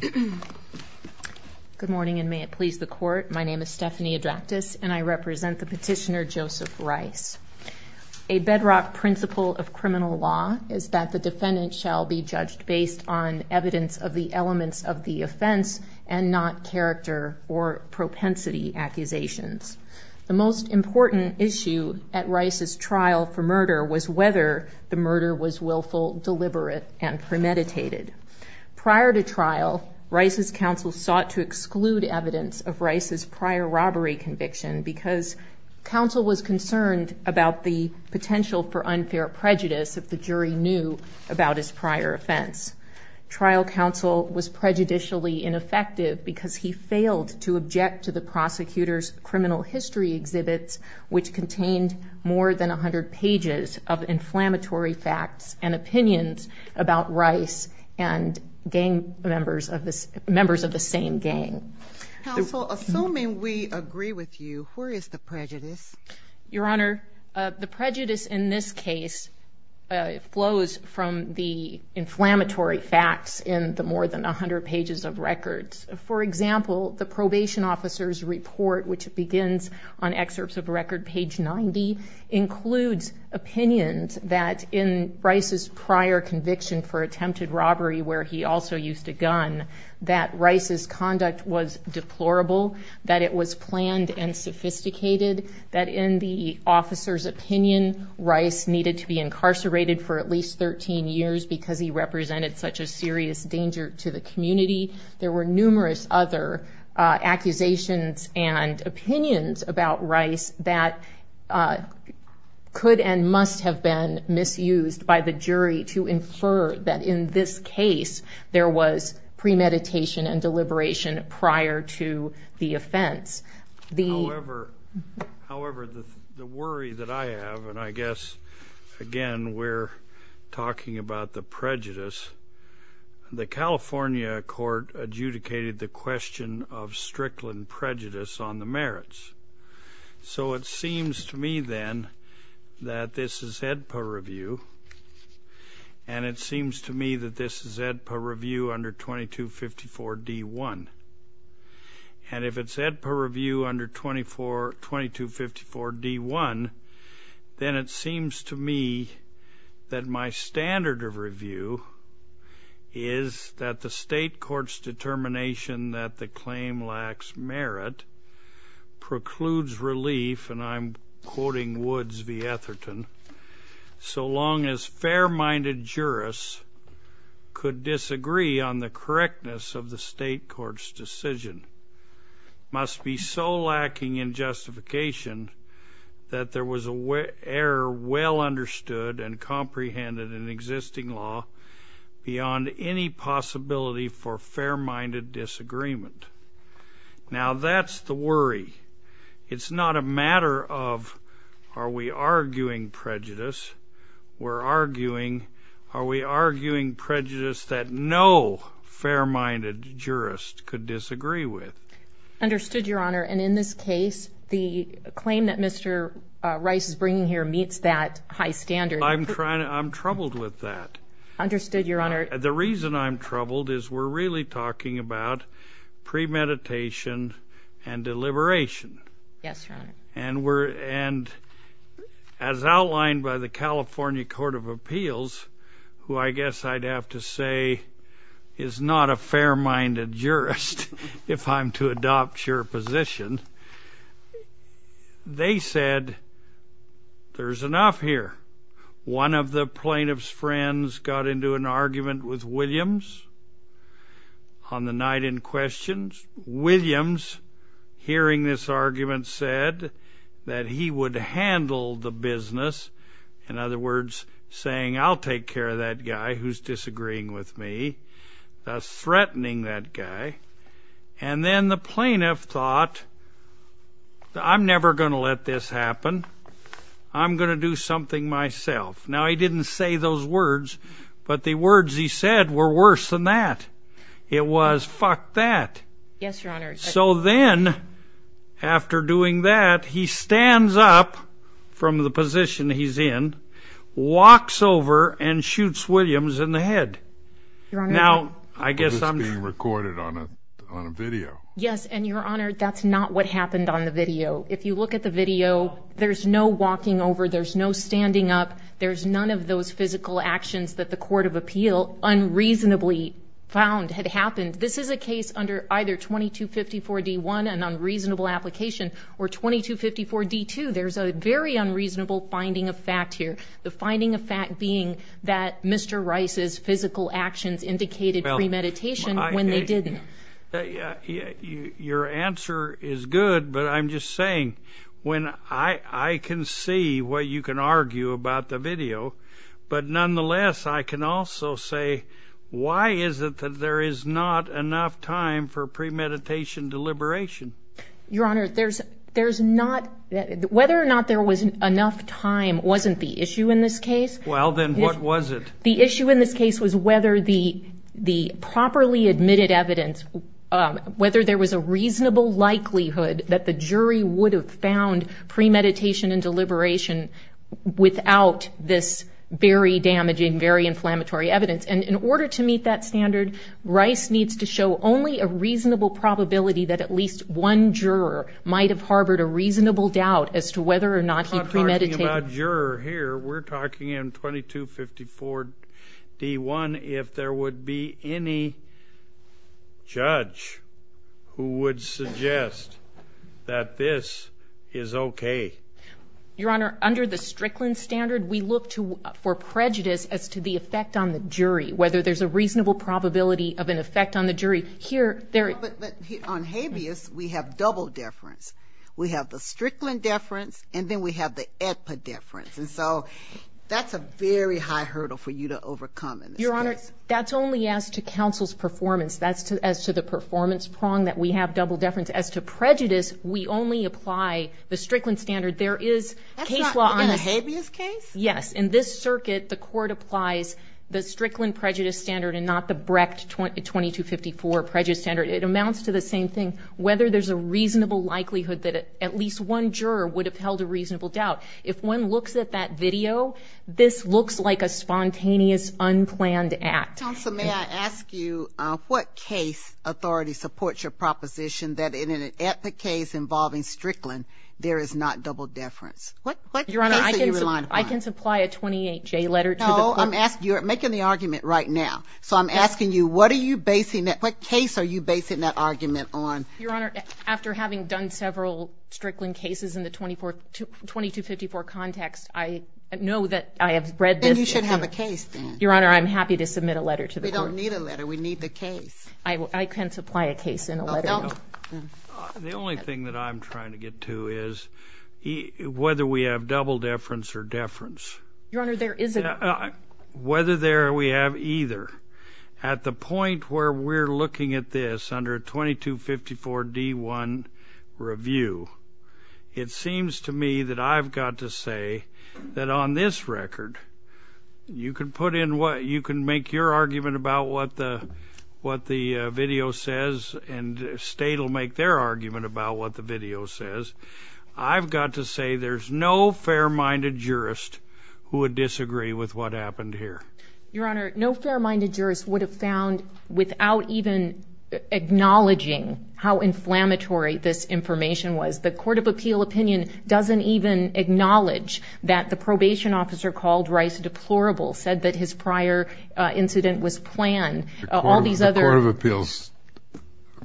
Good morning and may it please the Court, my name is Stephanie Adractis and I represent the petitioner Joseph Rice. A bedrock principle of criminal law is that the defendant shall be judged based on evidence of the elements of the offense and not character or propensity accusations. The most important issue at Rice's trial for murder was whether the murder was prior to trial, Rice's counsel sought to exclude evidence of Rice's prior robbery conviction because counsel was concerned about the potential for unfair prejudice if the jury knew about his prior offense. Trial counsel was prejudicially ineffective because he failed to object to the prosecutor's criminal history exhibits which contained more than 100 pages of inflammatory facts and opinions about Rice and gang members of the same gang. Counsel, assuming we agree with you, where is the prejudice? Your Honor, the prejudice in this case flows from the inflammatory facts in the more than 100 pages of records. For example, the probation officer's record, page 90, includes opinions that in Rice's prior conviction for attempted robbery where he also used a gun, that Rice's conduct was deplorable, that it was planned and sophisticated, that in the officer's opinion, Rice needed to be incarcerated for at least 13 years because he represented such a serious danger to the community. There were numerous other accusations and opinions about Rice that could and must have been misused by the jury to infer that in this case there was premeditation and deliberation prior to the offense. However, the worry that I have, and I guess again we're talking about the prejudice, the California court adjudicated the question of Strickland prejudice on the merits. So it seems to me then that this is EDPA review, and it seems to me that this is EDPA review under 2254 D1. And if it's EDPA review under 2254 D1, then it seems to me that my standard of review is that the claim lacks merit, precludes relief, and I'm quoting Woods v. Etherton, so long as fair-minded jurists could disagree on the correctness of the state court's decision must be so lacking in justification that there was an error well understood and comprehended in existing law beyond any possibility for fair-minded disagreement. Now that's the worry. It's not a matter of are we arguing prejudice, we're arguing are we arguing prejudice that no fair-minded jurist could disagree with. Understood, Your Honor, and in this case the claim that Mr. Rice is a fair-minded jurist, I'm troubled with that. Understood, Your Honor. The reason I'm troubled is we're really talking about premeditation and deliberation. Yes, Your Honor. And as outlined by the California Court of Appeals, who I guess I'd have to say is not a fair-minded jurist if I'm to adopt your position, they said there's enough here. One of the plaintiffs friends got into an argument with Williams on the night in question. Williams, hearing this argument, said that he would handle the business, in other words, saying, I'll take care of that guy who's disagreeing with me, thus threatening that guy. And then the plaintiff thought, I'm never going to let this happen. I'm going to do something myself. Now he didn't say those words, but the words he said were worse than that. It was, fuck that. Yes, Your Honor. So then, after doing that, he stands up from the position he's in, walks over and shoots Williams in the head. Now, I guess I'm... It was being recorded on a video. Yes, and Your Honor, that's not what happened on the video. If you look at the video, there's no walking over, there's no standing up, there's none of those physical actions that the court of appeal unreasonably found had happened. This is a case under either 2254 D-1, an unreasonable application, or 2254 D-2. There's a very unreasonable finding of fact here. The finding of fact being that Mr. Rice's physical actions indicated premeditation when they didn't. Your answer is good, but I'm just saying, when I can see what you can argue about the video, but nonetheless I can also say, why is it that there is not enough time for premeditation deliberation? Your Honor, there's not... Whether or not there was enough time wasn't the issue in this case. Well, then what was it? The issue in this case was whether the properly admitted evidence, whether there was a reasonable likelihood that the jury would have found premeditation and deliberation without this very damaging, very inflammatory evidence. And in order to meet that standard, Rice needs to show only a reasonable probability that at least one juror might have harbored a reasonable doubt as to whether or not he premeditated. We're talking in 2254 D-1 if there would be any judge who would suggest that this is okay. Your Honor, under the Strickland standard, we look for prejudice as to the effect on the jury, whether there's a reasonable probability of an effect on the jury. Here, there... On habeas, we have double deference. We have the Strickland deference, and then we have the EPA deference. And so, that's a very high hurdle for you to overcome in this case. Your Honor, that's only as to counsel's performance. That's as to the performance prong that we have double deference. As to prejudice, we only apply the Strickland standard. There is case law on... That's not in a habeas case? Yes. In this circuit, the court applies the Strickland prejudice standard and not the Brecht 2254 prejudice standard. It amounts to the same thing. Whether there's a reasonable likelihood that at least one juror would have held a reasonable doubt, if one looks at that video, this looks like a spontaneous, unplanned act. Counsel, may I ask you what case authority supports your proposition that in an epic case involving Strickland, there is not double deference? What case are you relying upon? I can supply a 28J letter to the court. No, I'm asking you... You're making the argument right now. So, I'm asking you, what are you basing that... What case are you basing that argument on? Your Honor, after having done several Strickland cases in the 2254 context, I know that I have read this... Then you should have a case, then. Your Honor, I'm happy to submit a letter to the court. We don't need a letter. We need the case. I can supply a case in a letter. The only thing that I'm trying to get to is whether we have double deference or deference. Your Honor, there is a... It seems to me that I've got to say that on this record, you can put in what... You can make your argument about what the video says, and State will make their argument about what the video says. I've got to say there's no fair-minded jurist who would disagree with what happened here. Your Honor, no fair-minded jurist would have found without even acknowledging how inflammatory this information was. The Court of Appeal opinion doesn't even acknowledge that the probation officer called Rice deplorable, said that his prior incident was planned. All these other... The Court of Appeals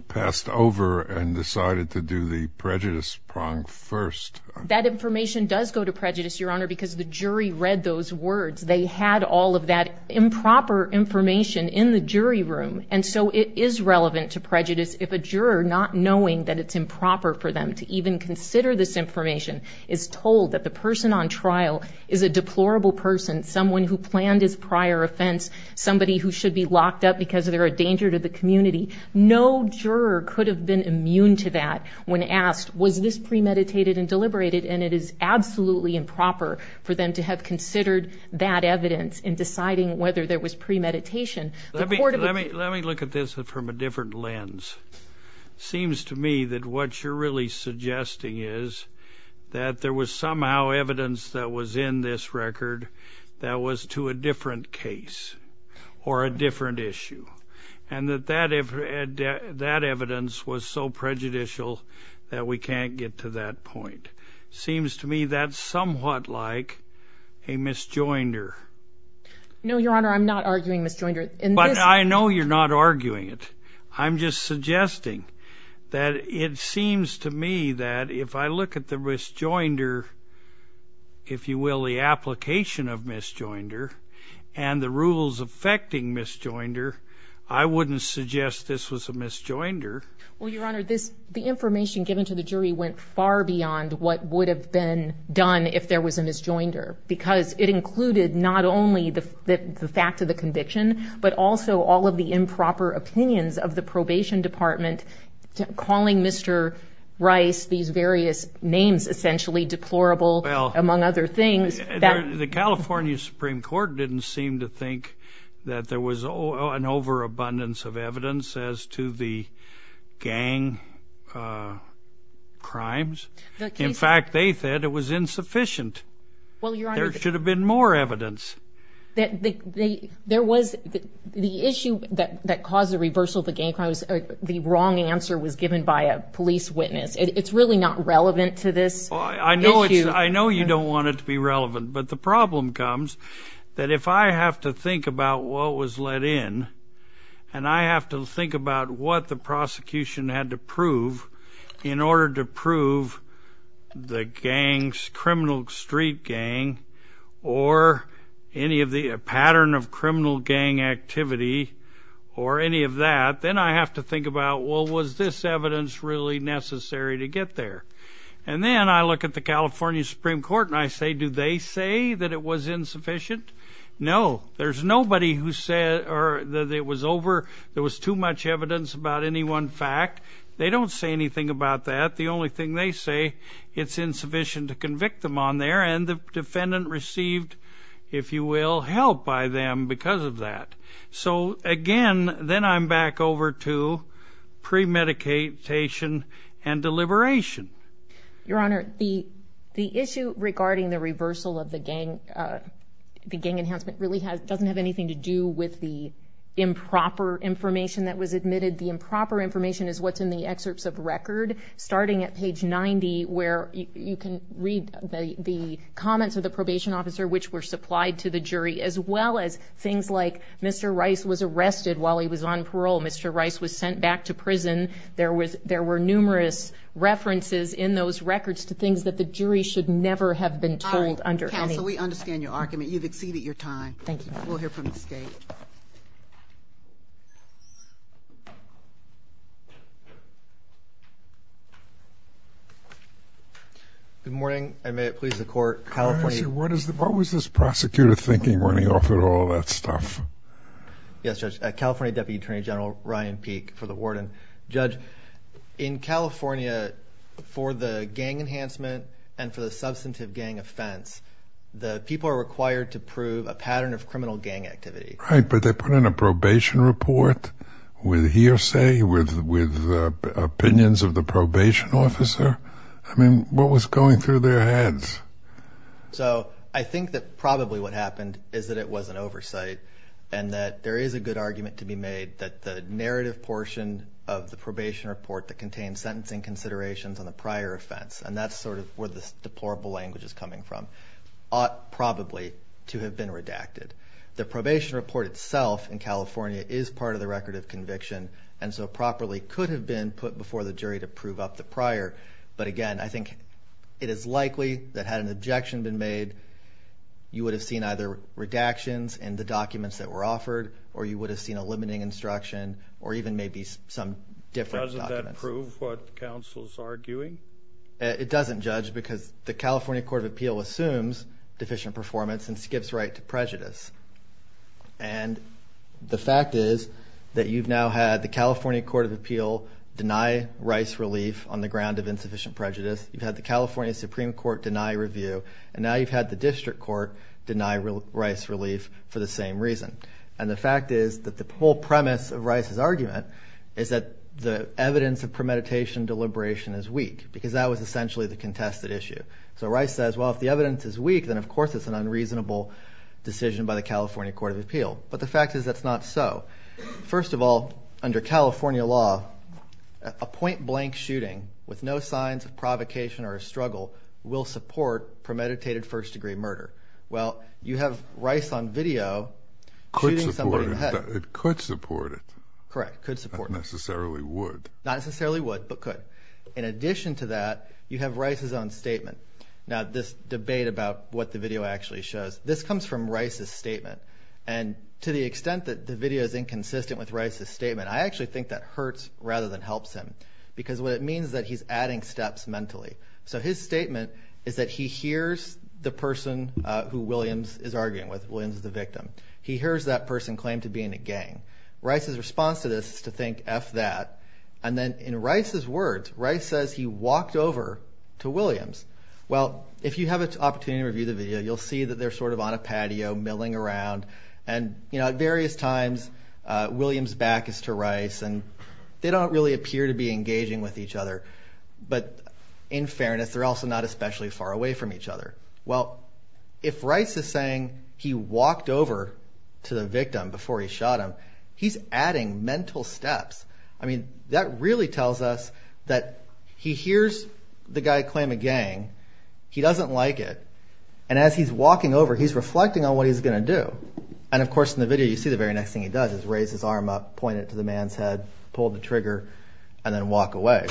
passed over and decided to do the prejudice prong first. That information does go to prejudice, Your Honor, because the jury read those words. They had all of that improper information in the jury room. And so it is relevant to prejudice if a juror, not knowing that it's improper for them to even consider this information, is told that the person on trial is a deplorable person, someone who planned his prior offense, somebody who should be locked up because they're a danger to the community. No juror could have been immune to that when asked, was this premeditated and deliberated? And it is absolutely improper for them to have considered that evidence in deciding whether there was premeditation. Let me look at this from a different lens. It seems to me that what you're really suggesting is that there was somehow evidence that was in this record that was to a different case or a different issue, and that that evidence was so prejudicial that we can't get to that point. Seems to me that's somewhat like a misjoinder. No, Your Honor, I'm not arguing misjoinder. But I know you're not arguing it. I'm just suggesting that it seems to me that if I look at the misjoinder, if you will, the application of misjoinder, and the rules affecting misjoinder, I wouldn't suggest this was a misjoinder. Well, Your Honor, the information given to the jury went far beyond what would have been done if there was a misjoinder, because it included not only the fact of the conviction, but also all of the improper opinions of the probation department calling Mr. Rice these various names, essentially deplorable, among other things. The California Supreme Court didn't seem to think that there was an overabundance of evidence as to the gang crimes. In fact, they said it was insufficient. There should have been more evidence. The issue that caused the reversal of the gang crimes, the wrong answer was given by a police witness. It's really not relevant to this issue. I know you don't want it to be relevant, but the problem comes that if I have to think about what was let in and I have to think about what the prosecution had to prove in order to prove the gang's criminal street gang or any of the pattern of criminal gang activity or any of that, then I have to think about, well, was this evidence really necessary to get there? And then I look at the California Supreme Court and I say, do they say that it was insufficient? No, there's nobody who said that it was over, there was too much evidence about any one fact. They don't say anything about that. The only thing they say, it's insufficient to convict them on there, and the defendant received, if you will, help by them because of that. So, again, then I'm back over to premedication and deliberation. Your Honor, the issue regarding the reversal of the gang enhancement really doesn't have anything to do with the improper information that was admitted. The improper information is what's in the excerpts of record starting at page 90 where you can read the comments of the probation officer which were supplied to the jury as well as things like Mr. Rice was arrested while he was on parole. Mr. Rice was sent back to prison. There were numerous references in those records to things that the jury should never have been told. Counsel, we understand your argument. You've exceeded your time. Thank you. We'll hear from the State. Good morning, and may it please the Court. What was this prosecutor thinking when he offered all that stuff? Yes, Judge, California Deputy Attorney General Ryan Peek for the warden. Judge, in California, for the gang enhancement and for the substantive gang offense, the people are required to prove a pattern of criminal gang activity. Right, but they put in a probation report with hearsay, with opinions of the probation officer. I mean, what was going through their heads? So I think that probably what happened is that it was an oversight and that there is a good argument to be made that the narrative portion of the probation report that contains sentencing considerations on the prior offense, and that's sort of where this deplorable language is coming from, ought probably to have been redacted. The probation report itself in California is part of the record of conviction and so properly could have been put before the jury to prove up the prior. But again, I think it is likely that had an objection been made, you would have seen either redactions in the documents that were offered or you would have seen a limiting instruction or even maybe some different documents. Doesn't that prove what counsel is arguing? It doesn't, Judge, because the California Court of Appeal assumes deficient performance and skips right to prejudice. And the fact is that you've now had the California Court of Appeal deny Rice relief on the ground of insufficient prejudice. You've had the California Supreme Court deny review. And now you've had the district court deny Rice relief for the same reason. And the fact is that the whole premise of Rice's argument is that the evidence of premeditation deliberation is weak because that was essentially the contested issue. So Rice says, well, if the evidence is weak, then of course it's an unreasonable decision by the California Court of Appeal. But the fact is that's not so. First of all, under California law, a point-blank shooting with no signs of provocation or a struggle will support premeditated first-degree murder. Well, you have Rice on video shooting somebody in the head. It could support it. Correct, could support it. Not necessarily would. Not necessarily would, but could. In addition to that, you have Rice's own statement. Now, this debate about what the video actually shows, this comes from Rice's statement. And to the extent that the video is inconsistent with Rice's statement, I actually think that hurts rather than helps him because what it means is that he's adding steps mentally. So his statement is that he hears the person who Williams is arguing with. Williams is the victim. He hears that person claim to being a gang. Rice's response to this is to think, F that. And then in Rice's words, Rice says he walked over to Williams. Well, if you have an opportunity to review the video, you'll see that they're sort of on a patio milling around. And at various times, Williams' back is to Rice, and they don't really appear to be engaging with each other. But in fairness, they're also not especially far away from each other. Well, if Rice is saying he walked over to the victim before he shot him, he's adding mental steps. I mean, that really tells us that he hears the guy claim a gang. He doesn't like it. And as he's walking over, he's reflecting on what he's going to do. And, of course, in the video, you see the very next thing he does is raise his arm up, point it to the man's head, pull the trigger, and then walk away.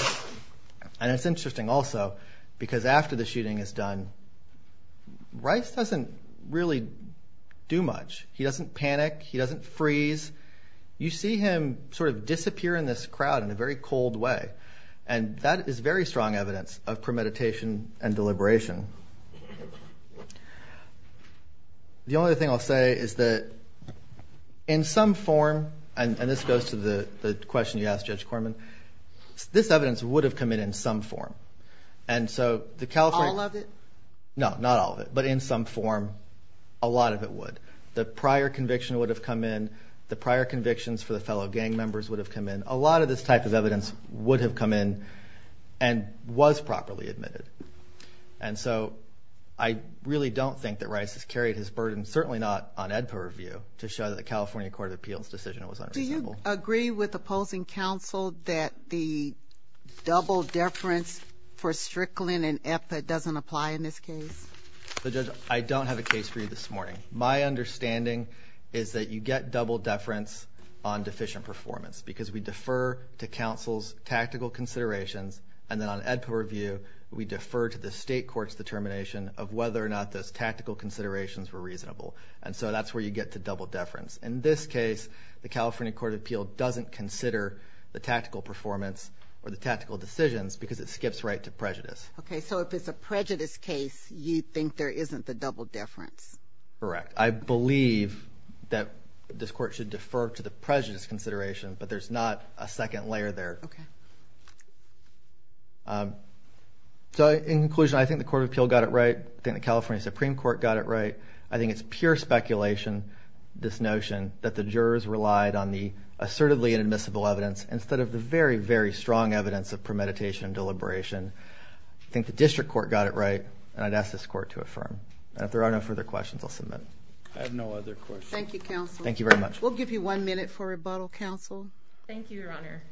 And it's interesting also because after the shooting is done, Rice doesn't really do much. He doesn't panic. He doesn't freeze. You see him sort of disappear in this crowd in a very cold way, and that is very strong evidence of premeditation and deliberation. The only other thing I'll say is that in some form, and this goes to the question you asked, Judge Corman, this evidence would have come in in some form. All of it? No, not all of it. But in some form, a lot of it would. The prior conviction would have come in. The prior convictions for the fellow gang members would have come in. A lot of this type of evidence would have come in and was properly admitted. And so I really don't think that Rice has carried his burden, certainly not on Edpa review, to show that the California Court of Appeals decision was unreasonable. Do you agree with opposing counsel that the double deference for Strickland and Eppa doesn't apply in this case? Judge, I don't have a case for you this morning. My understanding is that you get double deference on deficient performance because we defer to counsel's tactical considerations, and then on Edpa review, we defer to the state court's determination of whether or not those tactical considerations were reasonable. And so that's where you get the double deference. In this case, the California Court of Appeals doesn't consider the tactical performance or the tactical decisions because it skips right to prejudice. Okay, so if it's a prejudice case, you think there isn't the double deference? Correct. I believe that this court should defer to the prejudice consideration, but there's not a second layer there. Okay. So in conclusion, I think the Court of Appeals got it right. I think the California Supreme Court got it right. I think it's pure speculation, this notion, that the jurors relied on the assertively inadmissible evidence instead of the very, very strong evidence of premeditation and deliberation. I think the district court got it right, and I'd ask this court to affirm. And if there are no further questions, I'll submit. I have no other questions. Thank you, counsel. Thank you very much. We'll give you one minute for rebuttal, counsel. Thank you, Your Honor.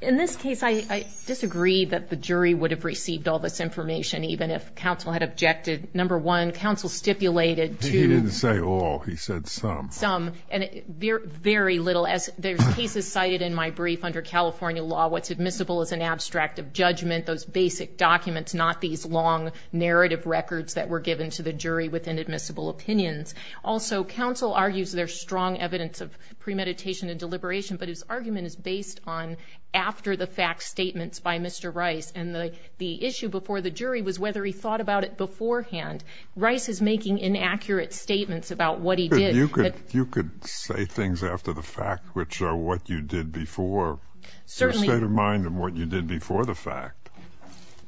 In this case, I disagree that the jury would have received all this information even if counsel had objected. Number one, counsel stipulated to— He didn't say all. He said some. Some, and very little. As there's cases cited in my brief under California law, what's admissible is an abstract of judgment, those basic documents, not these long narrative records that were given to the jury with inadmissible opinions. Also, counsel argues there's strong evidence of premeditation and deliberation, but his argument is based on after-the-fact statements by Mr. Rice, and the issue before the jury was whether he thought about it beforehand. Rice is making inaccurate statements about what he did. You could say things after the fact, which are what you did before. Certainly. The state of mind of what you did before the fact.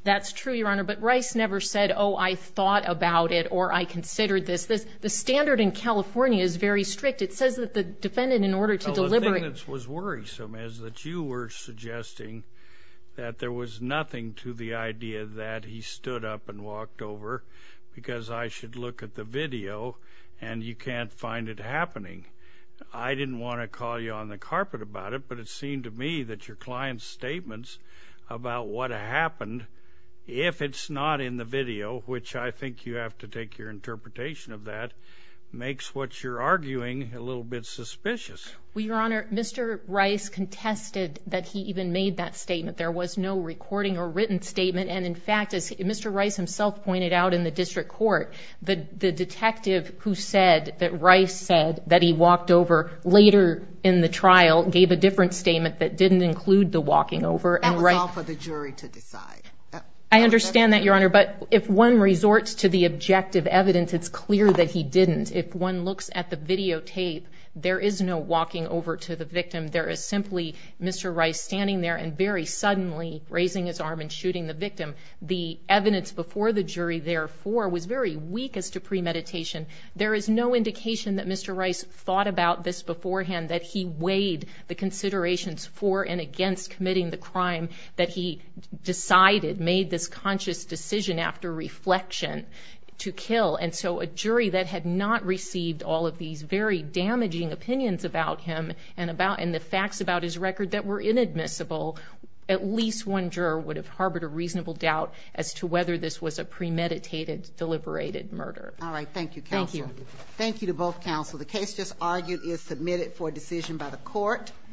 That's true, Your Honor, but Rice never said, oh, I thought about it or I considered this. The standard in California is very strict. It says that the defendant, in order to deliberate— Oh, the thing that was worrisome is that you were suggesting that there was nothing to the idea that he stood up and walked over because I should look at the video and you can't find it happening. I didn't want to call you on the carpet about it, but it seemed to me that your client's statements about what happened, if it's not in the video, which I think you have to take your interpretation of that, makes what you're arguing a little bit suspicious. Well, Your Honor, Mr. Rice contested that he even made that statement. There was no recording or written statement, and in fact, as Mr. Rice himself pointed out in the district court, the detective who said that Rice said that he walked over later in the trial gave a different statement that didn't include the walking over. That was all for the jury to decide. I understand that, Your Honor, but if one resorts to the objective evidence, it's clear that he didn't. If one looks at the videotape, there is no walking over to the victim. There is simply Mr. Rice standing there and very suddenly raising his arm and shooting the victim. The evidence before the jury, therefore, was very weak as to premeditation. There is no indication that Mr. Rice thought about this beforehand, that he weighed the considerations for and against committing the crime that he decided, made this conscious decision after reflection to kill. And so a jury that had not received all of these very damaging opinions about him and the facts about his record that were inadmissible, at least one juror would have harbored a reasonable doubt as to whether this was a premeditated, deliberated murder. All right. Thank you, counsel. Thank you. Thank you to both counsel. The case just argued is submitted for decision by the court.